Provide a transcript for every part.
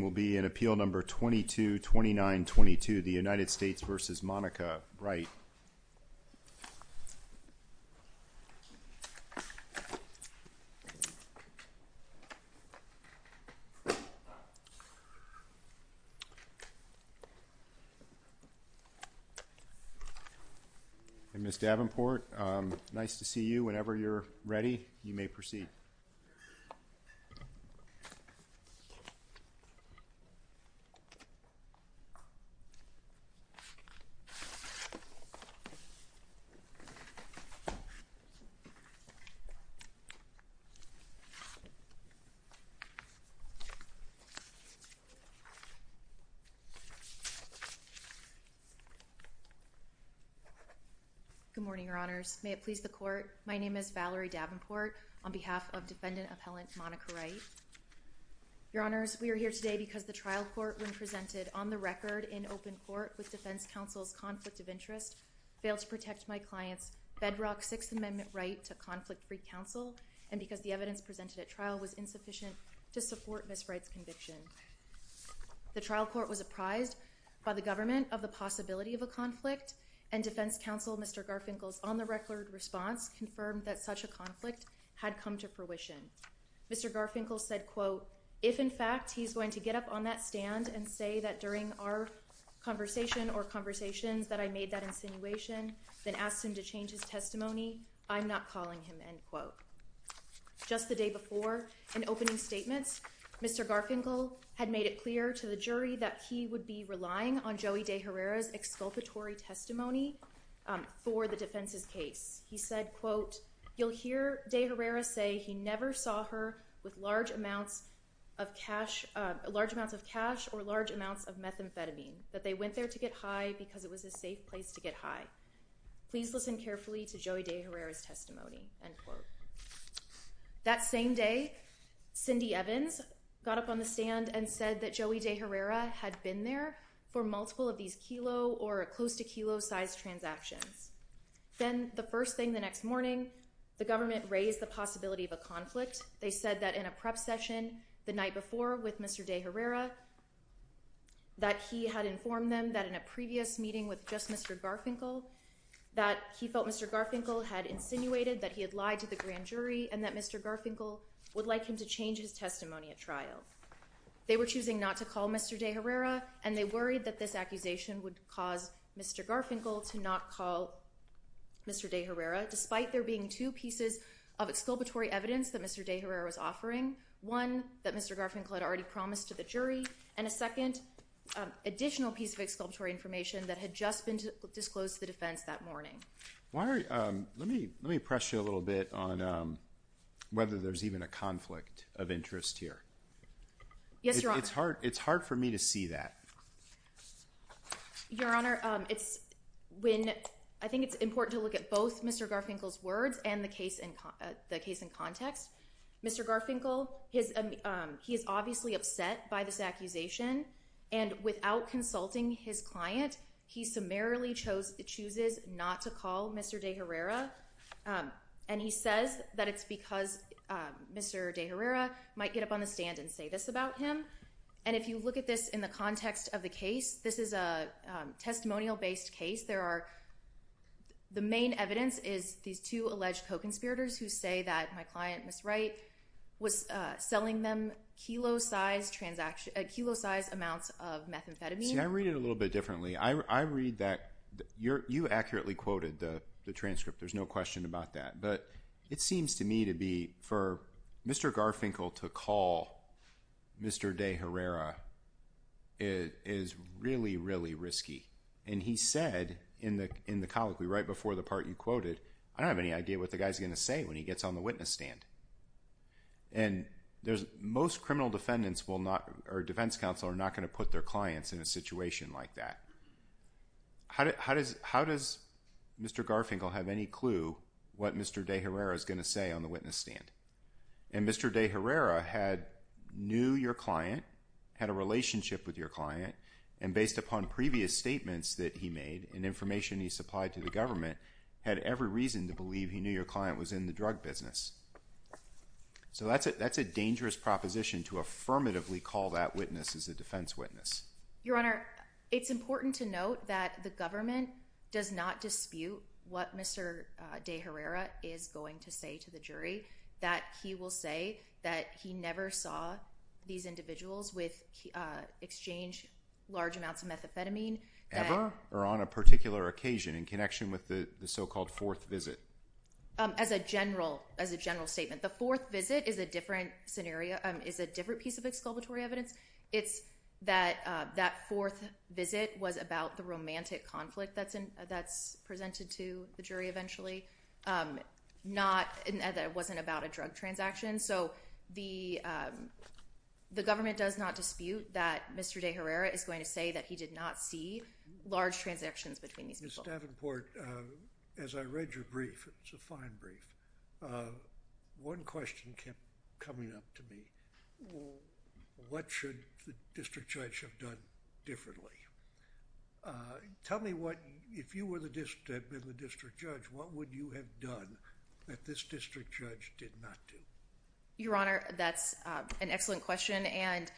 will be in Appeal No. 222922, the United States v. Monica Wright. And Ms. Davenport, nice to see you. Whenever you're ready, you may proceed. Good morning, Your Honors. May it please the Court, my name is Valerie Davenport on behalf of Defendant Appellant Monica Wright. Your Honors, we are here today because the trial court when presented on the record in open court with Defense Counsel's conflict of interest failed to protect my client's bedrock Sixth Amendment right to conflict-free counsel and because the evidence presented at trial was insufficient to support Ms. Wright's conviction. The trial court was apprised by the government of the possibility of a conflict and Defense Counsel Mr. Garfinkel's on-the-record response confirmed that such a conflict had come to fruition. Mr. Garfinkel said, quote, if in fact he's going to get up on that stand and say that during our conversation or conversations that I made that insinuation, then asked him to change his testimony, I'm not calling him, end quote. Just the day before an opening statement, Mr. Garfinkel had made it clear to the jury that he would be relying on Joey De Herrera's exculpatory testimony for the defense's case. He said, quote, you'll hear De Herrera say he never saw her with large amounts of cash or large amounts of methamphetamine, that they went there to get high because it was a safe place to get high. Please listen carefully to Joey De Herrera's testimony, end quote. That same day, Cindy Evans got up on the stand and said that Joey De Herrera had been there for multiple of these kilo or close to kilo-sized transactions. Then the first thing the next morning, the government raised the possibility of a conflict. They said that in a prep session the night before with Mr. De Herrera, that he had informed them that in a previous meeting with just Mr. Garfinkel, that he felt Mr. Garfinkel had insinuated that he had lied to the grand jury and that Mr. Garfinkel would like him to change his testimony at trial. They were choosing not to call Mr. De Herrera, and they worried that this accusation would cause Mr. Garfinkel to not call Mr. De Herrera, despite there being two pieces of exculpatory evidence that Mr. De Herrera was offering, one that Mr. Garfinkel had already promised to the jury, and a second additional piece of exculpatory information that had just been disclosed to the defense that morning. Why are you, let me press you a little bit on whether there's even a conflict of interest here. Yes, Your Honor. It's hard for me to see that. Your Honor, it's when, I think it's important to look at both Mr. Garfinkel's words and the case in context. Mr. Garfinkel, he is obviously upset by this accusation, and without consulting his client, he summarily chooses not to call Mr. De Herrera, and he says that it's because Mr. De Herrera might get up on the stand and say this about him. And if you look at this in the context of the case, this is a testimonial-based case. There are, the main evidence is these two alleged co-conspirators who say that my client, Ms. Wright, was selling them kilo-sized amounts of methamphetamine. See, I read it a little bit differently. I read that, you accurately quoted the transcript. There's no question about that. But it seems to me to be, for Mr. Garfinkel to call Mr. De Herrera is really, really risky. And he said in the colloquy right before the part you quoted, I don't have any idea what the guy's going to say when he gets on the witness stand. And most criminal defendants will not, or defense counsel, are not going to put their clients in a situation like that. How does Mr. Garfinkel have any clue what Mr. De Herrera is going to say on the witness stand? And Mr. De Herrera knew your client, had a relationship with your client, and based upon previous statements that he made and information he supplied to the government, had every reason to believe he knew your client was in the drug business. So that's a dangerous proposition to affirmatively call that witness as a defense witness. Your Honor, it's important to note that the government does not dispute what Mr. De Herrera is going to say to the jury. That he will say that he never saw these individuals exchange large amounts of methamphetamine. Ever? Or on a particular occasion in connection with the so-called fourth visit? As a general statement. The fourth visit is a different piece of exculpatory evidence. It's that that fourth visit was about the romantic conflict that's presented to the jury. Not that it wasn't about a drug transaction. So the government does not dispute that Mr. De Herrera is going to say that he did not see large transactions between these people. Ms. Davenport, as I read your brief, it's a fine brief, one question kept coming up to me. What should the district judge have done differently? Tell me what, if you were the district judge, what would you have done that this district judge did not do? Your Honor, that's an excellent question. And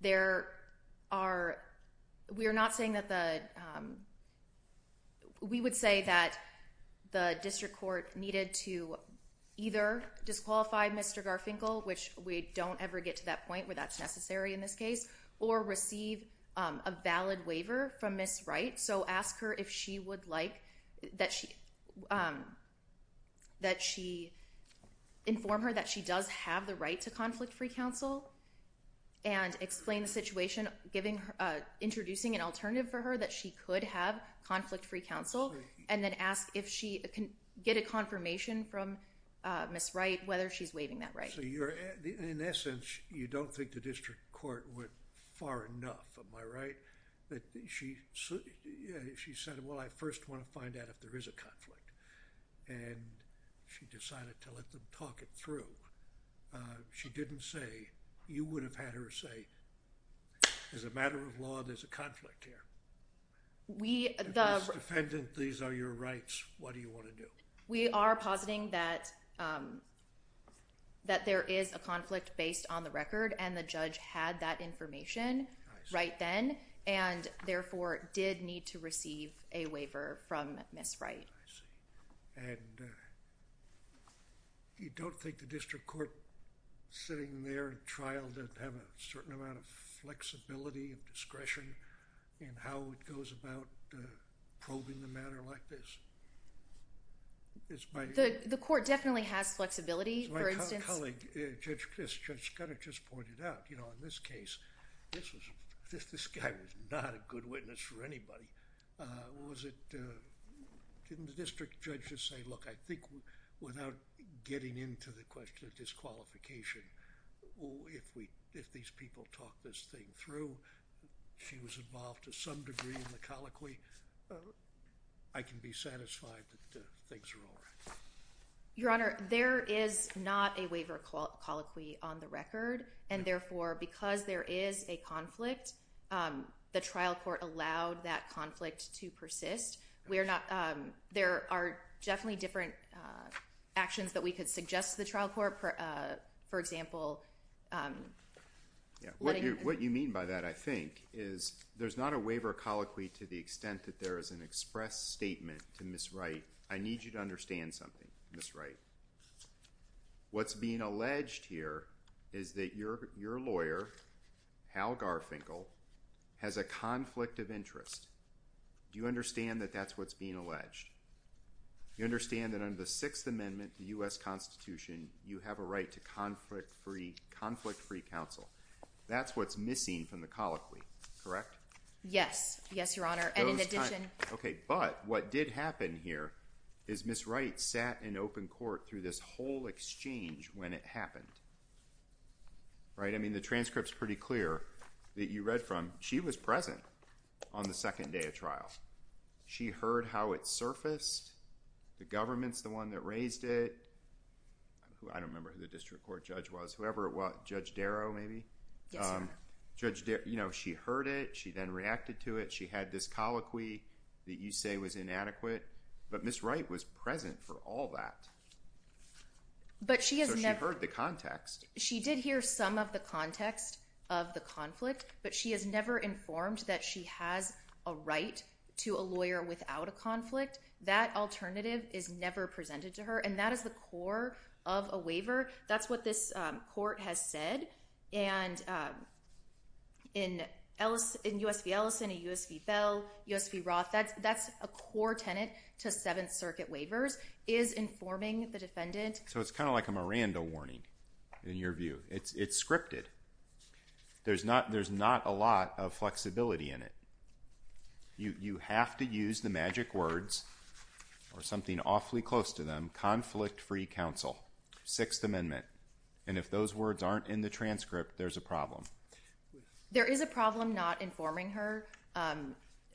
there are, we are not saying that the, we would say that the district court needed to either disqualify Mr. Garfinkel, which we don't ever get to that point where that's necessary in this case, or receive a valid waiver from Ms. Wright. So ask her if she would like that she, that she inform her that she does have the right to conflict-free counsel and explain the situation, giving her, introducing an alternative for her that she could have conflict-free counsel, and then ask if she can get a confirmation from Ms. Wright, whether she's waiving that right. So you're, in essence, you don't think the district court went far enough, am I right? That she said, well, I first want to find out if there is a conflict, and she decided to let them talk it through. She didn't say, you would have had her say, as a matter of law, there's a conflict here. If Ms. Defendant, these are your rights, what do you want to do? We are positing that there is a conflict based on the record, and the judge had that information right then, and therefore, did need to receive a waiver from Ms. Wright. I see. And you don't think the district court sitting there at trial did have a certain amount of flexibility and discretion in how it goes about probing the matter like this? The court definitely has flexibility, for instance. My colleague, Judge Scudder, just pointed out, in this case, this guy was not a good witness for anybody. Didn't the district judge just say, look, I think without getting into the question of disqualification, if these people talk this thing through, she was involved to some degree in the colloquy, I can be satisfied that things are all right. Your Honor, there is not a waiver colloquy on the record, and therefore, because there is a conflict, the trial court allowed that conflict to persist. There are definitely different actions that we could suggest to the trial court, for example. What you mean by that, I think, is there's not a waiver colloquy to the extent that there is an express statement to Ms. Wright, I need you to understand something, Ms. Wright. What's being alleged here is that your lawyer, Hal Garfinkel, has a conflict of interest. Do you understand that that's what's being alleged? You understand that under the Sixth Amendment of the U.S. Constitution, you have a right to conflict-free counsel. That's what's missing from the colloquy, correct? Yes. Yes, Your Honor, and in addition. Okay, but what did happen here is Ms. Wright sat in open court through this whole exchange when it happened, right? I mean, the transcript's pretty clear that you read from. She was present on the second day of trial. She heard how it surfaced. The government's the one that raised it. I don't remember who the district court judge was, whoever it was, Judge Darrow maybe? Yes, Your Honor. Judge Darrow, you know, she heard it. She then reacted to it. She had this colloquy that you say was inadequate, but Ms. Wright was present for all that. But she has never... So she heard the context. She did hear some of the context of the conflict, but she has never informed that she has a right to a lawyer without a conflict. That alternative is never presented to her, and that is the core of a waiver. That's what this court has said, and in U.S. v. Ellison, U.S. v. Bell, U.S. v. Roth, that's a core tenet to Seventh Circuit waivers, is informing the defendant... In your view. It's scripted. There's not a lot of flexibility in it. You have to use the magic words, or something awfully close to them, conflict-free counsel, Sixth Amendment, and if those words aren't in the transcript, there's a problem. There is a problem not informing her.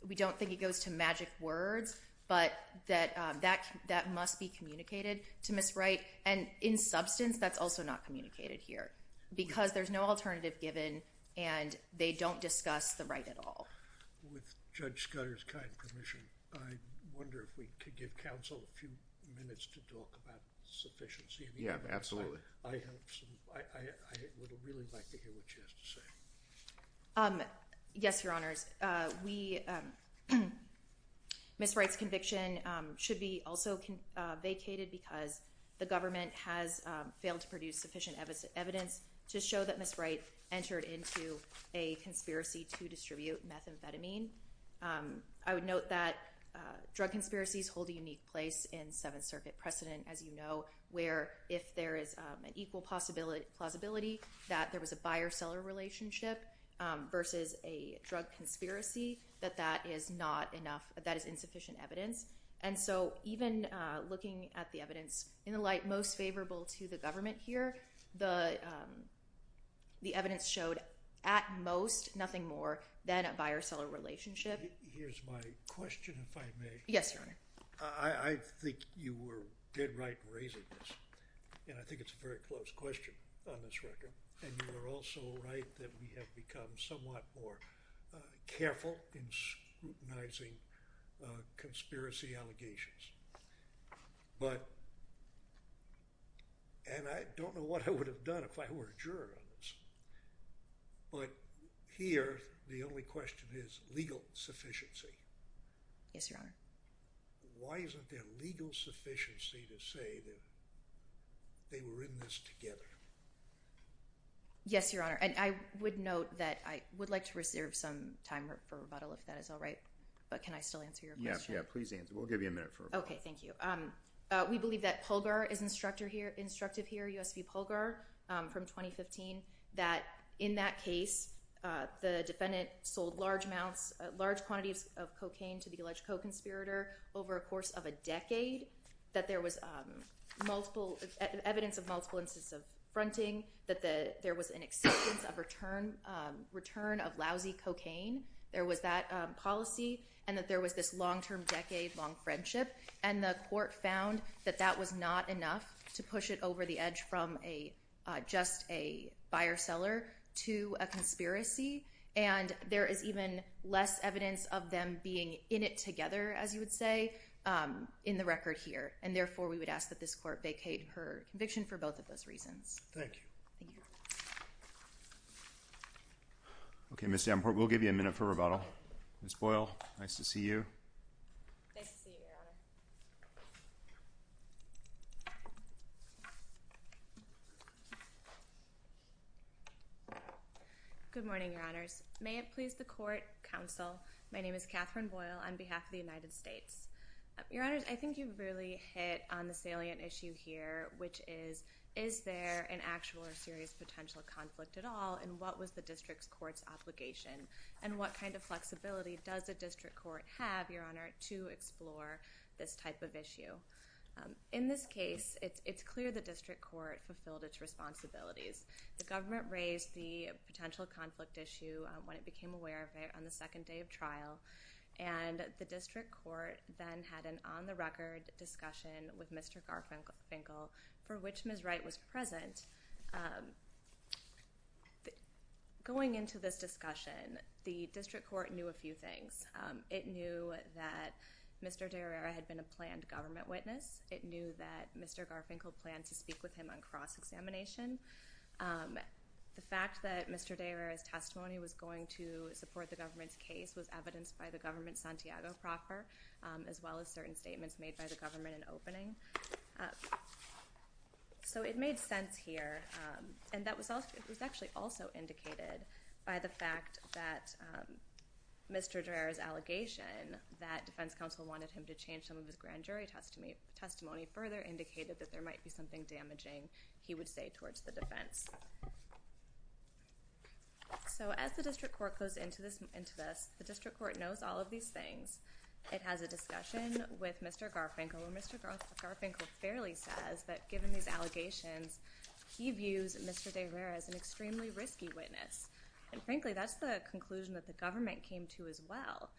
We don't think it goes to magic words, but that must be communicated to Ms. Wright, and in substance, that's also not communicated here, because there's no alternative given, and they don't discuss the right at all. With Judge Scudder's kind permission, I wonder if we could give counsel a few minutes to talk about sufficiency. Yeah, absolutely. I have some... I would really like to hear what she has to say. Yes, Your Honors. Ms. Wright's conviction should be also vacated because the government has failed to produce sufficient evidence to show that Ms. Wright entered into a conspiracy to distribute methamphetamine. I would note that drug conspiracies hold a unique place in Seventh Circuit precedent, as you know, where if there is an equal plausibility that there was a buyer-seller relationship versus a drug conspiracy, that that is insufficient evidence, and so even looking at the evidence in the light most favorable to the government here, the evidence showed at most nothing more than a buyer-seller relationship. Here's my question, if I may. Yes, Your Honor. I think you were dead right in raising this, and I think it's a very close question on whether you're also right that we have become somewhat more careful in scrutinizing conspiracy allegations, but... and I don't know what I would have done if I were a juror on this, but here the only question is legal sufficiency. Yes, Your Honor. Why isn't there legal sufficiency to say that they were in this together? Yes, Your Honor, and I would note that I would like to reserve some time for rebuttal if that is all right, but can I still answer your question? Yeah, please answer. We'll give you a minute for a rebuttal. Okay, thank you. We believe that Polgar is instructive here, U.S.P. Polgar, from 2015, that in that case the defendant sold large amounts, large quantities of cocaine to the alleged co-conspirator over a course of a decade, that there was evidence of multiple instances of fronting, that there was an acceptance of return of lousy cocaine, there was that policy, and that there was this long-term decade-long friendship, and the court found that that was not enough to push it over the edge from just a buyer-seller to a conspiracy, and there is even less evidence of them being in it together, as you would say, in the record here, and therefore we would ask that this court vacate her conviction for both of those reasons. Thank you. Okay, Ms. Davenport, we'll give you a minute for rebuttal. Ms. Boyle, nice to see you. Nice to see you, Your Honor. Good morning, Your Honors. May it please the court, counsel, my name is Catherine Boyle on behalf of the United States. Your Honors, I think you've really hit on the salient issue here, which is, is there an actual or serious potential conflict at all, and what was the district court's obligation, and what kind of flexibility does the district court have, Your Honor, to explore this type of issue? In this case, it's clear the district court fulfilled its responsibilities. The government raised the potential conflict issue when it became aware of it on the second day of trial, and the district court then had an on-the-record discussion with Mr. Garfinkel for which Ms. Wright was present. Going into this discussion, the district court knew a few things. It knew that Mr. de Herrera had been a planned government witness. It knew that Mr. Garfinkel planned to speak with him on cross-examination. The fact that Mr. de Herrera's testimony was going to support the government's case was evidenced by the government Santiago proffer, as well as certain statements made by the government in opening. So it made sense here, and that was actually also indicated by the fact that Mr. de Herrera's allegation that defense counsel wanted him to change some of his grand jury testimony further indicated that there might be something damaging he would say towards the defense. So as the district court goes into this, the district court knows all of these things. It has a discussion with Mr. Garfinkel, and Mr. Garfinkel fairly says that given these allegations, he views Mr. de Herrera as an extremely risky witness, and frankly, that's the conclusion that the government came to as well.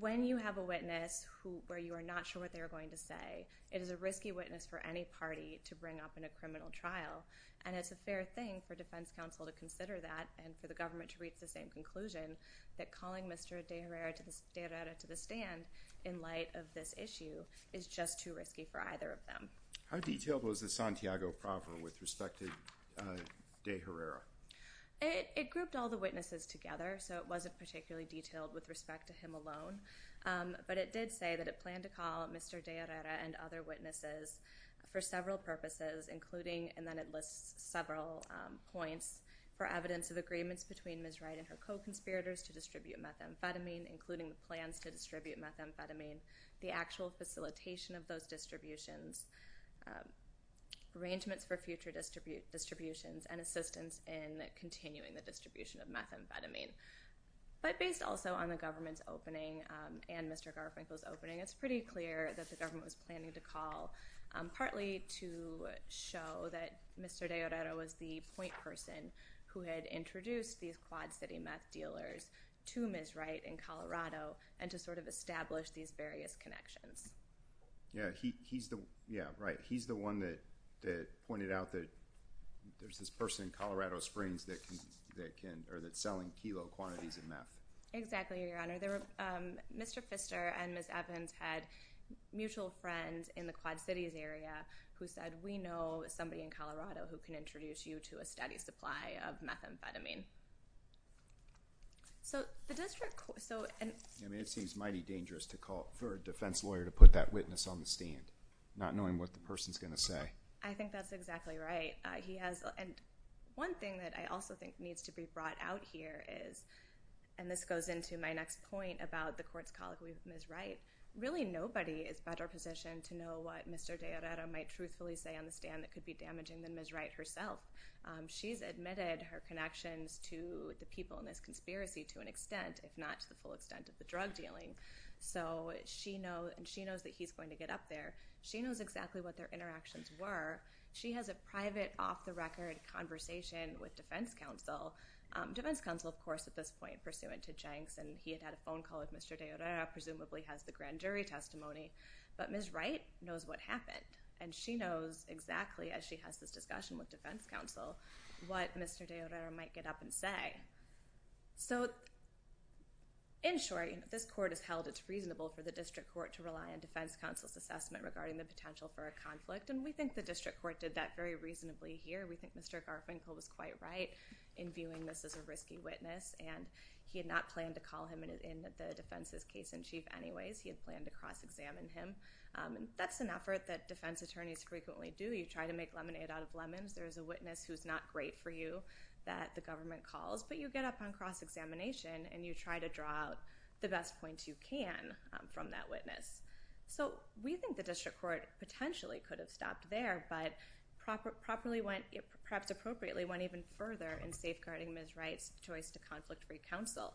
When you have a witness where you are not sure what they are going to say, it is a risky witness for any party to bring up in a criminal trial, and it's a fair thing for defense counsel to consider that and for the government to reach the same conclusion that calling Mr. de Herrera to the stand in light of this issue is just too risky for either of them. How detailed was the Santiago proffer with respect to de Herrera? It grouped all the witnesses together, so it wasn't particularly detailed with respect to him alone, but it did say that it planned to call Mr. de Herrera and other witnesses for several purposes, including, and then it lists several points, for evidence of agreements between Ms. Wright and her co-conspirators to distribute methamphetamine, including the plans to distribute methamphetamine, the actual facilitation of those distributions, arrangements for future distributions, and assistance in continuing the distribution of methamphetamine. But based also on the government's opening and Mr. Garfinkel's opening, it's pretty clear that the government was planning to call partly to show that Mr. de Herrera was the point person who had introduced these Quad City meth dealers to Ms. Wright in Colorado and to sort of establish these various connections. Yeah, right. He's the one that pointed out that there's this person in Colorado Springs that's selling kilo quantities of meth. Exactly, Your Honor. Mr. Pfister and Ms. Evans had mutual friends in the Quad Cities area who said, we know somebody in Colorado who can introduce you to a steady supply of methamphetamine. I mean, it seems mighty dangerous for a defense lawyer to put that witness on the stand, not knowing what the person's going to say. I think that's exactly right. One thing that I also think needs to be brought out here is, and this goes into my next point about the court's colloquy with Ms. Wright, really nobody is better positioned to know what Mr. de Herrera might truthfully say on the stand that could be damaging than Ms. Wright herself. She's admitted her connections to the people in this conspiracy to an extent, if not to the full extent of the drug dealing. So she knows that he's going to get up there. She knows exactly what their interactions were. She has a private, off-the-record conversation with defense counsel. Defense counsel, of course, at this point, pursuant to Jenks, and he had had a phone call with Mr. de Herrera, presumably has the grand jury testimony. But Ms. Wright knows what happened. And she knows exactly, as she has this discussion with defense counsel, what Mr. de Herrera might get up and say. So, in short, this court has held it reasonable for the district court to rely on defense counsel's assessment regarding the potential for a conflict, and we think the district court did that very reasonably here. We think Mr. Garfinkel was quite right in viewing this as a risky witness, and he had not planned to call him in the defense's case in chief anyways. He had planned to cross-examine him. That's an effort that defense attorneys frequently do. You try to make lemonade out of lemons. There's a witness who's not great for you that the government calls, but you get up on cross-examination, and you try to draw out the best points you can from that witness. So we think the district court potentially could have stopped there, but properly went, perhaps appropriately, went even further in safeguarding Ms. Wright's choice to conflict-free counsel.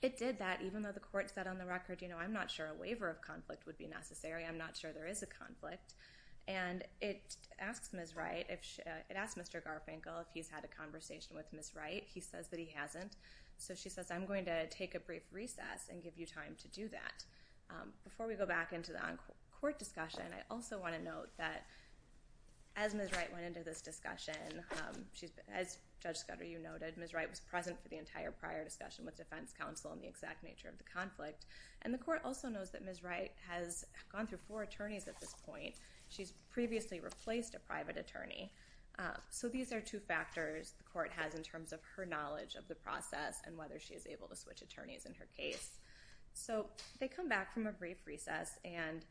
It did that, even though the court said on the record, you know, I'm not sure a waiver of conflict would be necessary. I'm not sure there is a conflict. And it asks Ms. Wright, it asks Mr. Garfinkel if he's had a conversation with Ms. Wright. He says that he hasn't. So she says, I'm going to take a brief recess and give you time to do that. Before we go back into the on-court discussion, I also want to note that as Ms. Wright went into this discussion, as Judge Scudder, you noted, Ms. Wright was present for the entire prior discussion with defense counsel on the exact nature of the conflict. And the court also knows that Ms. Wright has gone through four attorneys at this point. She's previously replaced a private attorney. So these are two factors the court has in terms of her knowledge of the process and whether she is able to switch attorneys in her case. So they come back from a brief recess, and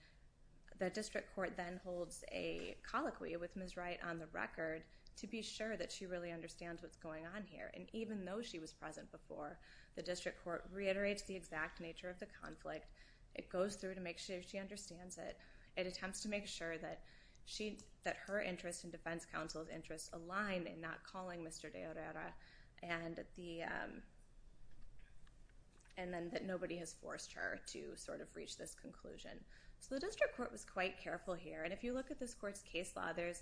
the district court then holds a colloquy with Ms. Wright's record to be sure that she really understands what's going on here. And even though she was present before, the district court reiterates the exact nature of the conflict. It goes through to make sure she understands it. It attempts to make sure that her interests and defense counsel's interests align in not calling Mr. de Orellana and then that nobody has forced her to sort of reach this conclusion. So the district court was quite careful here. And if you look at this court's case law, there's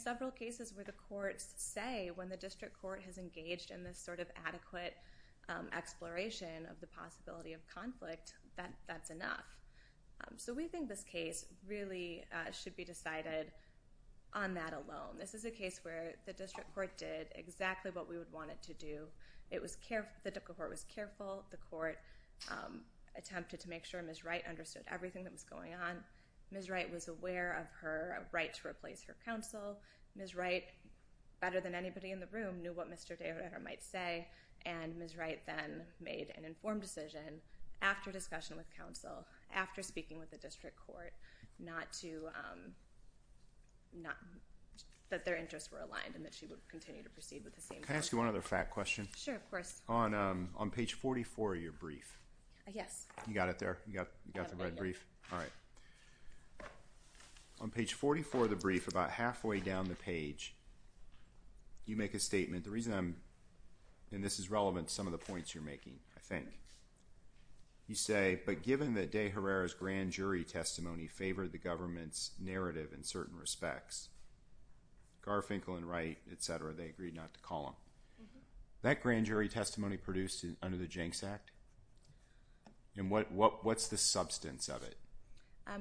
several cases where the courts say when the district court has engaged in this sort of adequate exploration of the possibility of conflict, that that's enough. So we think this case really should be decided on that alone. This is a case where the district court did exactly what we would want it to do. The district court was careful. The court attempted to make sure Ms. Wright understood everything that was going on. Ms. Wright was aware of her right to replace her counsel. Ms. Wright, better than anybody in the room, knew what Mr. de Orellana might say. And Ms. Wright then made an informed decision after discussion with counsel, after speaking with the district court, that their interests were aligned and that she would continue to proceed with the same. Can I ask you one other fact question? Sure, of course. On page 44 of your brief. Yes. You got it there? You got the red brief? All right. On page 44 of the brief, about halfway down the page, you make a statement. The reason I'm, and this is relevant to some of the points you're making, I think. You say, but given that De Herrera's grand jury testimony favored the government's narrative in certain respects, Garfinkel and Wright, et cetera, they agreed not to call him. That grand jury testimony produced under the Jenks Act? And what's the substance of it?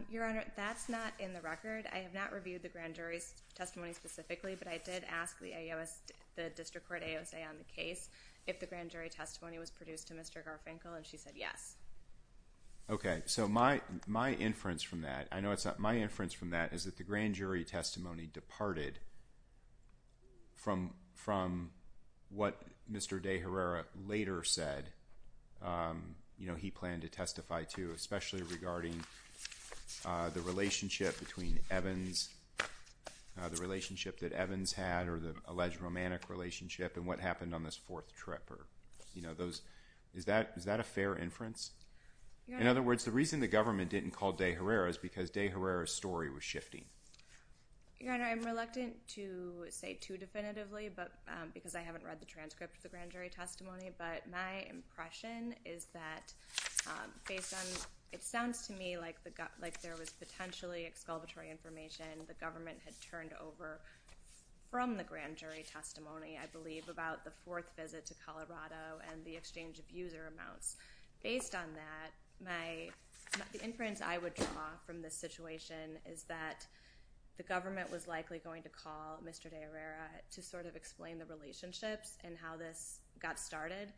Your Honor, that's not in the record. I have not reviewed the grand jury's testimony specifically, but I did ask the district court AOSA on the case if the grand jury testimony was produced to Mr. Garfinkel, and she said yes. Okay. So my inference from that, I know it's not my inference from that, is that the grand he planned to testify to, especially regarding the relationship between Evans, the relationship that Evans had, or the alleged romantic relationship, and what happened on this fourth trip. Is that a fair inference? Your Honor. In other words, the reason the government didn't call De Herrera is because De Herrera's story was shifting. Your Honor, I'm reluctant to say too definitively, because I haven't read the transcript of the testimony, is that based on, it sounds to me like there was potentially exculpatory information the government had turned over from the grand jury testimony, I believe, about the fourth visit to Colorado and the exchange of user amounts. Based on that, the inference I would draw from this situation is that the government was likely going to call Mr. De Herrera to sort of explain the relationships and how this got started,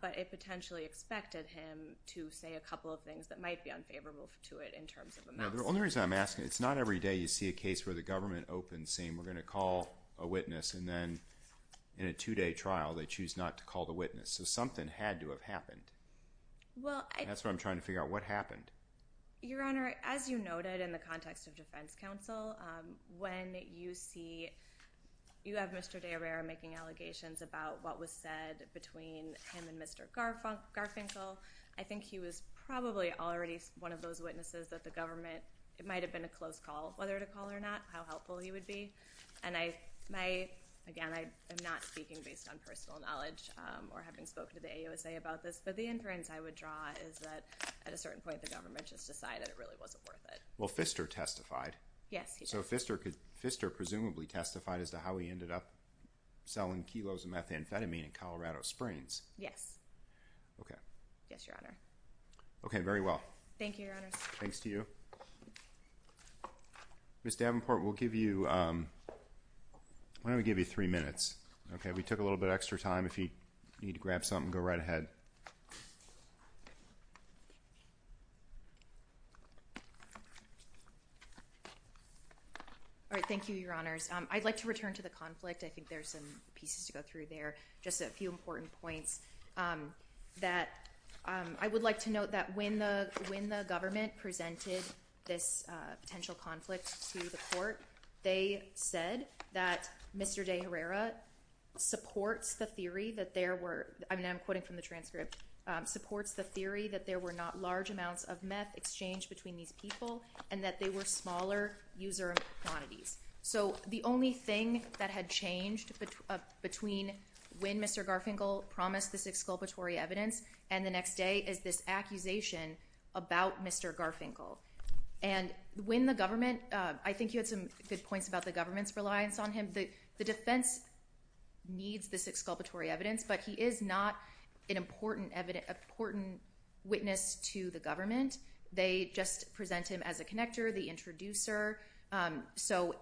but it potentially expected him to say a couple of things that might be unfavorable to it in terms of amounts. The only reason I'm asking, it's not every day you see a case where the government opens saying, we're going to call a witness, and then in a two-day trial, they choose not to call the witness. So something had to have happened. That's what I'm trying to figure out. What happened? Your Honor, as you noted in the context of defense counsel, when you see, you have Mr. De Herrera making allegations about what was said between him and Mr. Garfinkel, I think he was probably already one of those witnesses that the government, it might have been a close call, whether to call or not, how helpful he would be. Again, I am not speaking based on personal knowledge or having spoken to the AUSA about this, but the inference I would draw is that at a certain point, the government just decided it really wasn't worth it. Well, Pfister testified. Yes, he did. So Pfister presumably testified as to how he ended up selling kilos of methamphetamine in Colorado Springs. Yes. Okay. Yes, Your Honor. Okay, very well. Thank you, Your Honors. Thanks to you. Ms. Davenport, we'll give you, why don't we give you three minutes? Okay, we took a little bit of extra time. If you need to grab something, go right ahead. All right. Thank you, Your Honors. I'd like to return to the conflict. I think there's some pieces to go through there, just a few important points that I would like to note that when the government presented this potential conflict to the court, they said that Mr. De Herrera supports the theory that there were, and I'm quoting from the transcript, supports the theory that there were not large amounts of meth exchanged between these people and that they were smaller user quantities. So the only thing that had changed between when Mr. Garfinkel promised this exculpatory evidence and the next day is this accusation about Mr. Garfinkel. And when the government, I think you had some good points about the government's reliance on him. The defense needs this exculpatory evidence, but he is not an important witness to the government. They just present him as a connector, the introducer. So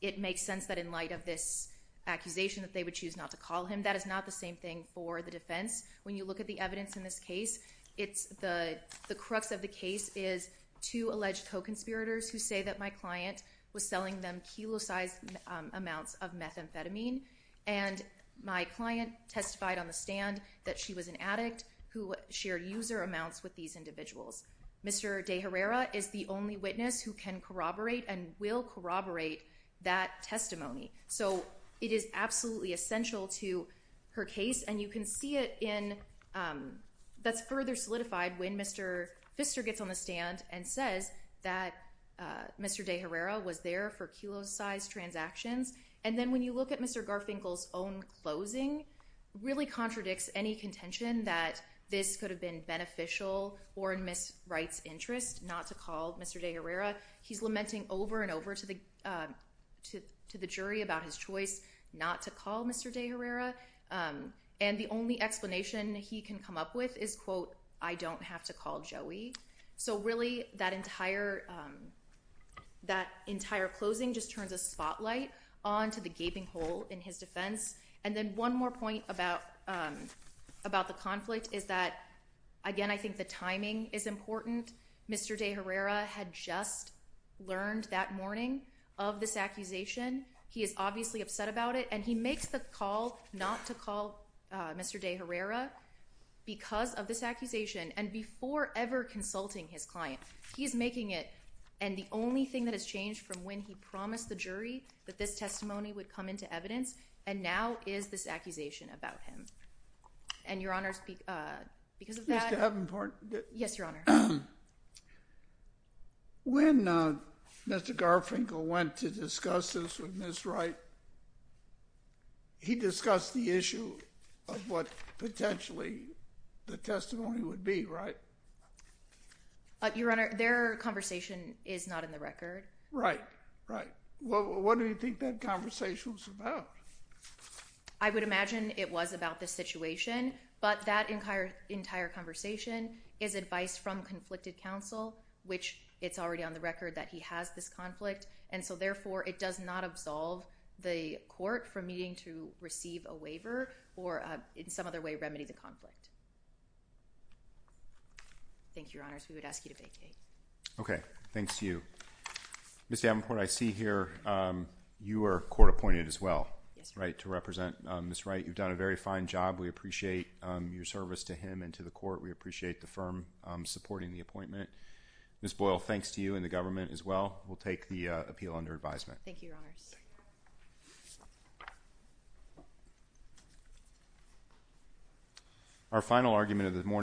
it makes sense that in light of this accusation that they would choose not to call him, that is not the same thing for the defense. When you look at the evidence in this case, the crux of the case is two alleged co-conspirators who say that my client was selling them kilo-sized amounts of methamphetamine and my client testified on the stand that she was an addict who shared user amounts with these individuals. Mr. De Herrera is the only witness who can corroborate and will corroborate that testimony. So it is absolutely essential to her case and you can see it in, that's further solidified when Mr. Pfister gets on the stand and says that Mr. De Herrera was there for kilo-sized transactions. And then when you look at Mr. Garfinkel's own closing, really contradicts any contention that this could have been beneficial or in Ms. Wright's interest not to call Mr. De Herrera. He's lamenting over and over to the jury about his choice not to call Mr. De Herrera. And the only explanation he can come up with is, quote, I don't have to call Joey. So really, that entire closing just turns a spotlight onto the gaping hole in his defense. And then one more point about the conflict is that, again, I think the timing is important. Mr. De Herrera had just learned that morning of this accusation. He is obviously upset about it and he makes the call not to call Mr. De Herrera because of this accusation and before ever consulting his client. He is making it and the only thing that has changed from when he promised the jury that this testimony would come into evidence and now is this accusation about him. And, Your Honor, because of that— Mr. Havenport? Yes, Your Honor. When Mr. Garfinkel went to discuss this with Ms. Wright, he discussed the issue of what the testimony would be, right? Your Honor, their conversation is not in the record. Right, right. Well, what do you think that conversation was about? I would imagine it was about the situation, but that entire conversation is advice from conflicted counsel, which it's already on the record that he has this conflict. And so, therefore, it does not absolve the court from needing to receive a waiver or in some other way remedy the conflict. Thank you, Your Honors. We would ask you to vacate. Okay. Thanks to you. Ms. Havenport, I see here you were court appointed as well, right, to represent Ms. Wright. You've done a very fine job. We appreciate your service to him and to the court. We appreciate the firm supporting the appointment. Ms. Boyle, thanks to you and the government as well. We'll take the appeal under advisement. Thank you, Your Honors. Thank you. Our final argument of the morning.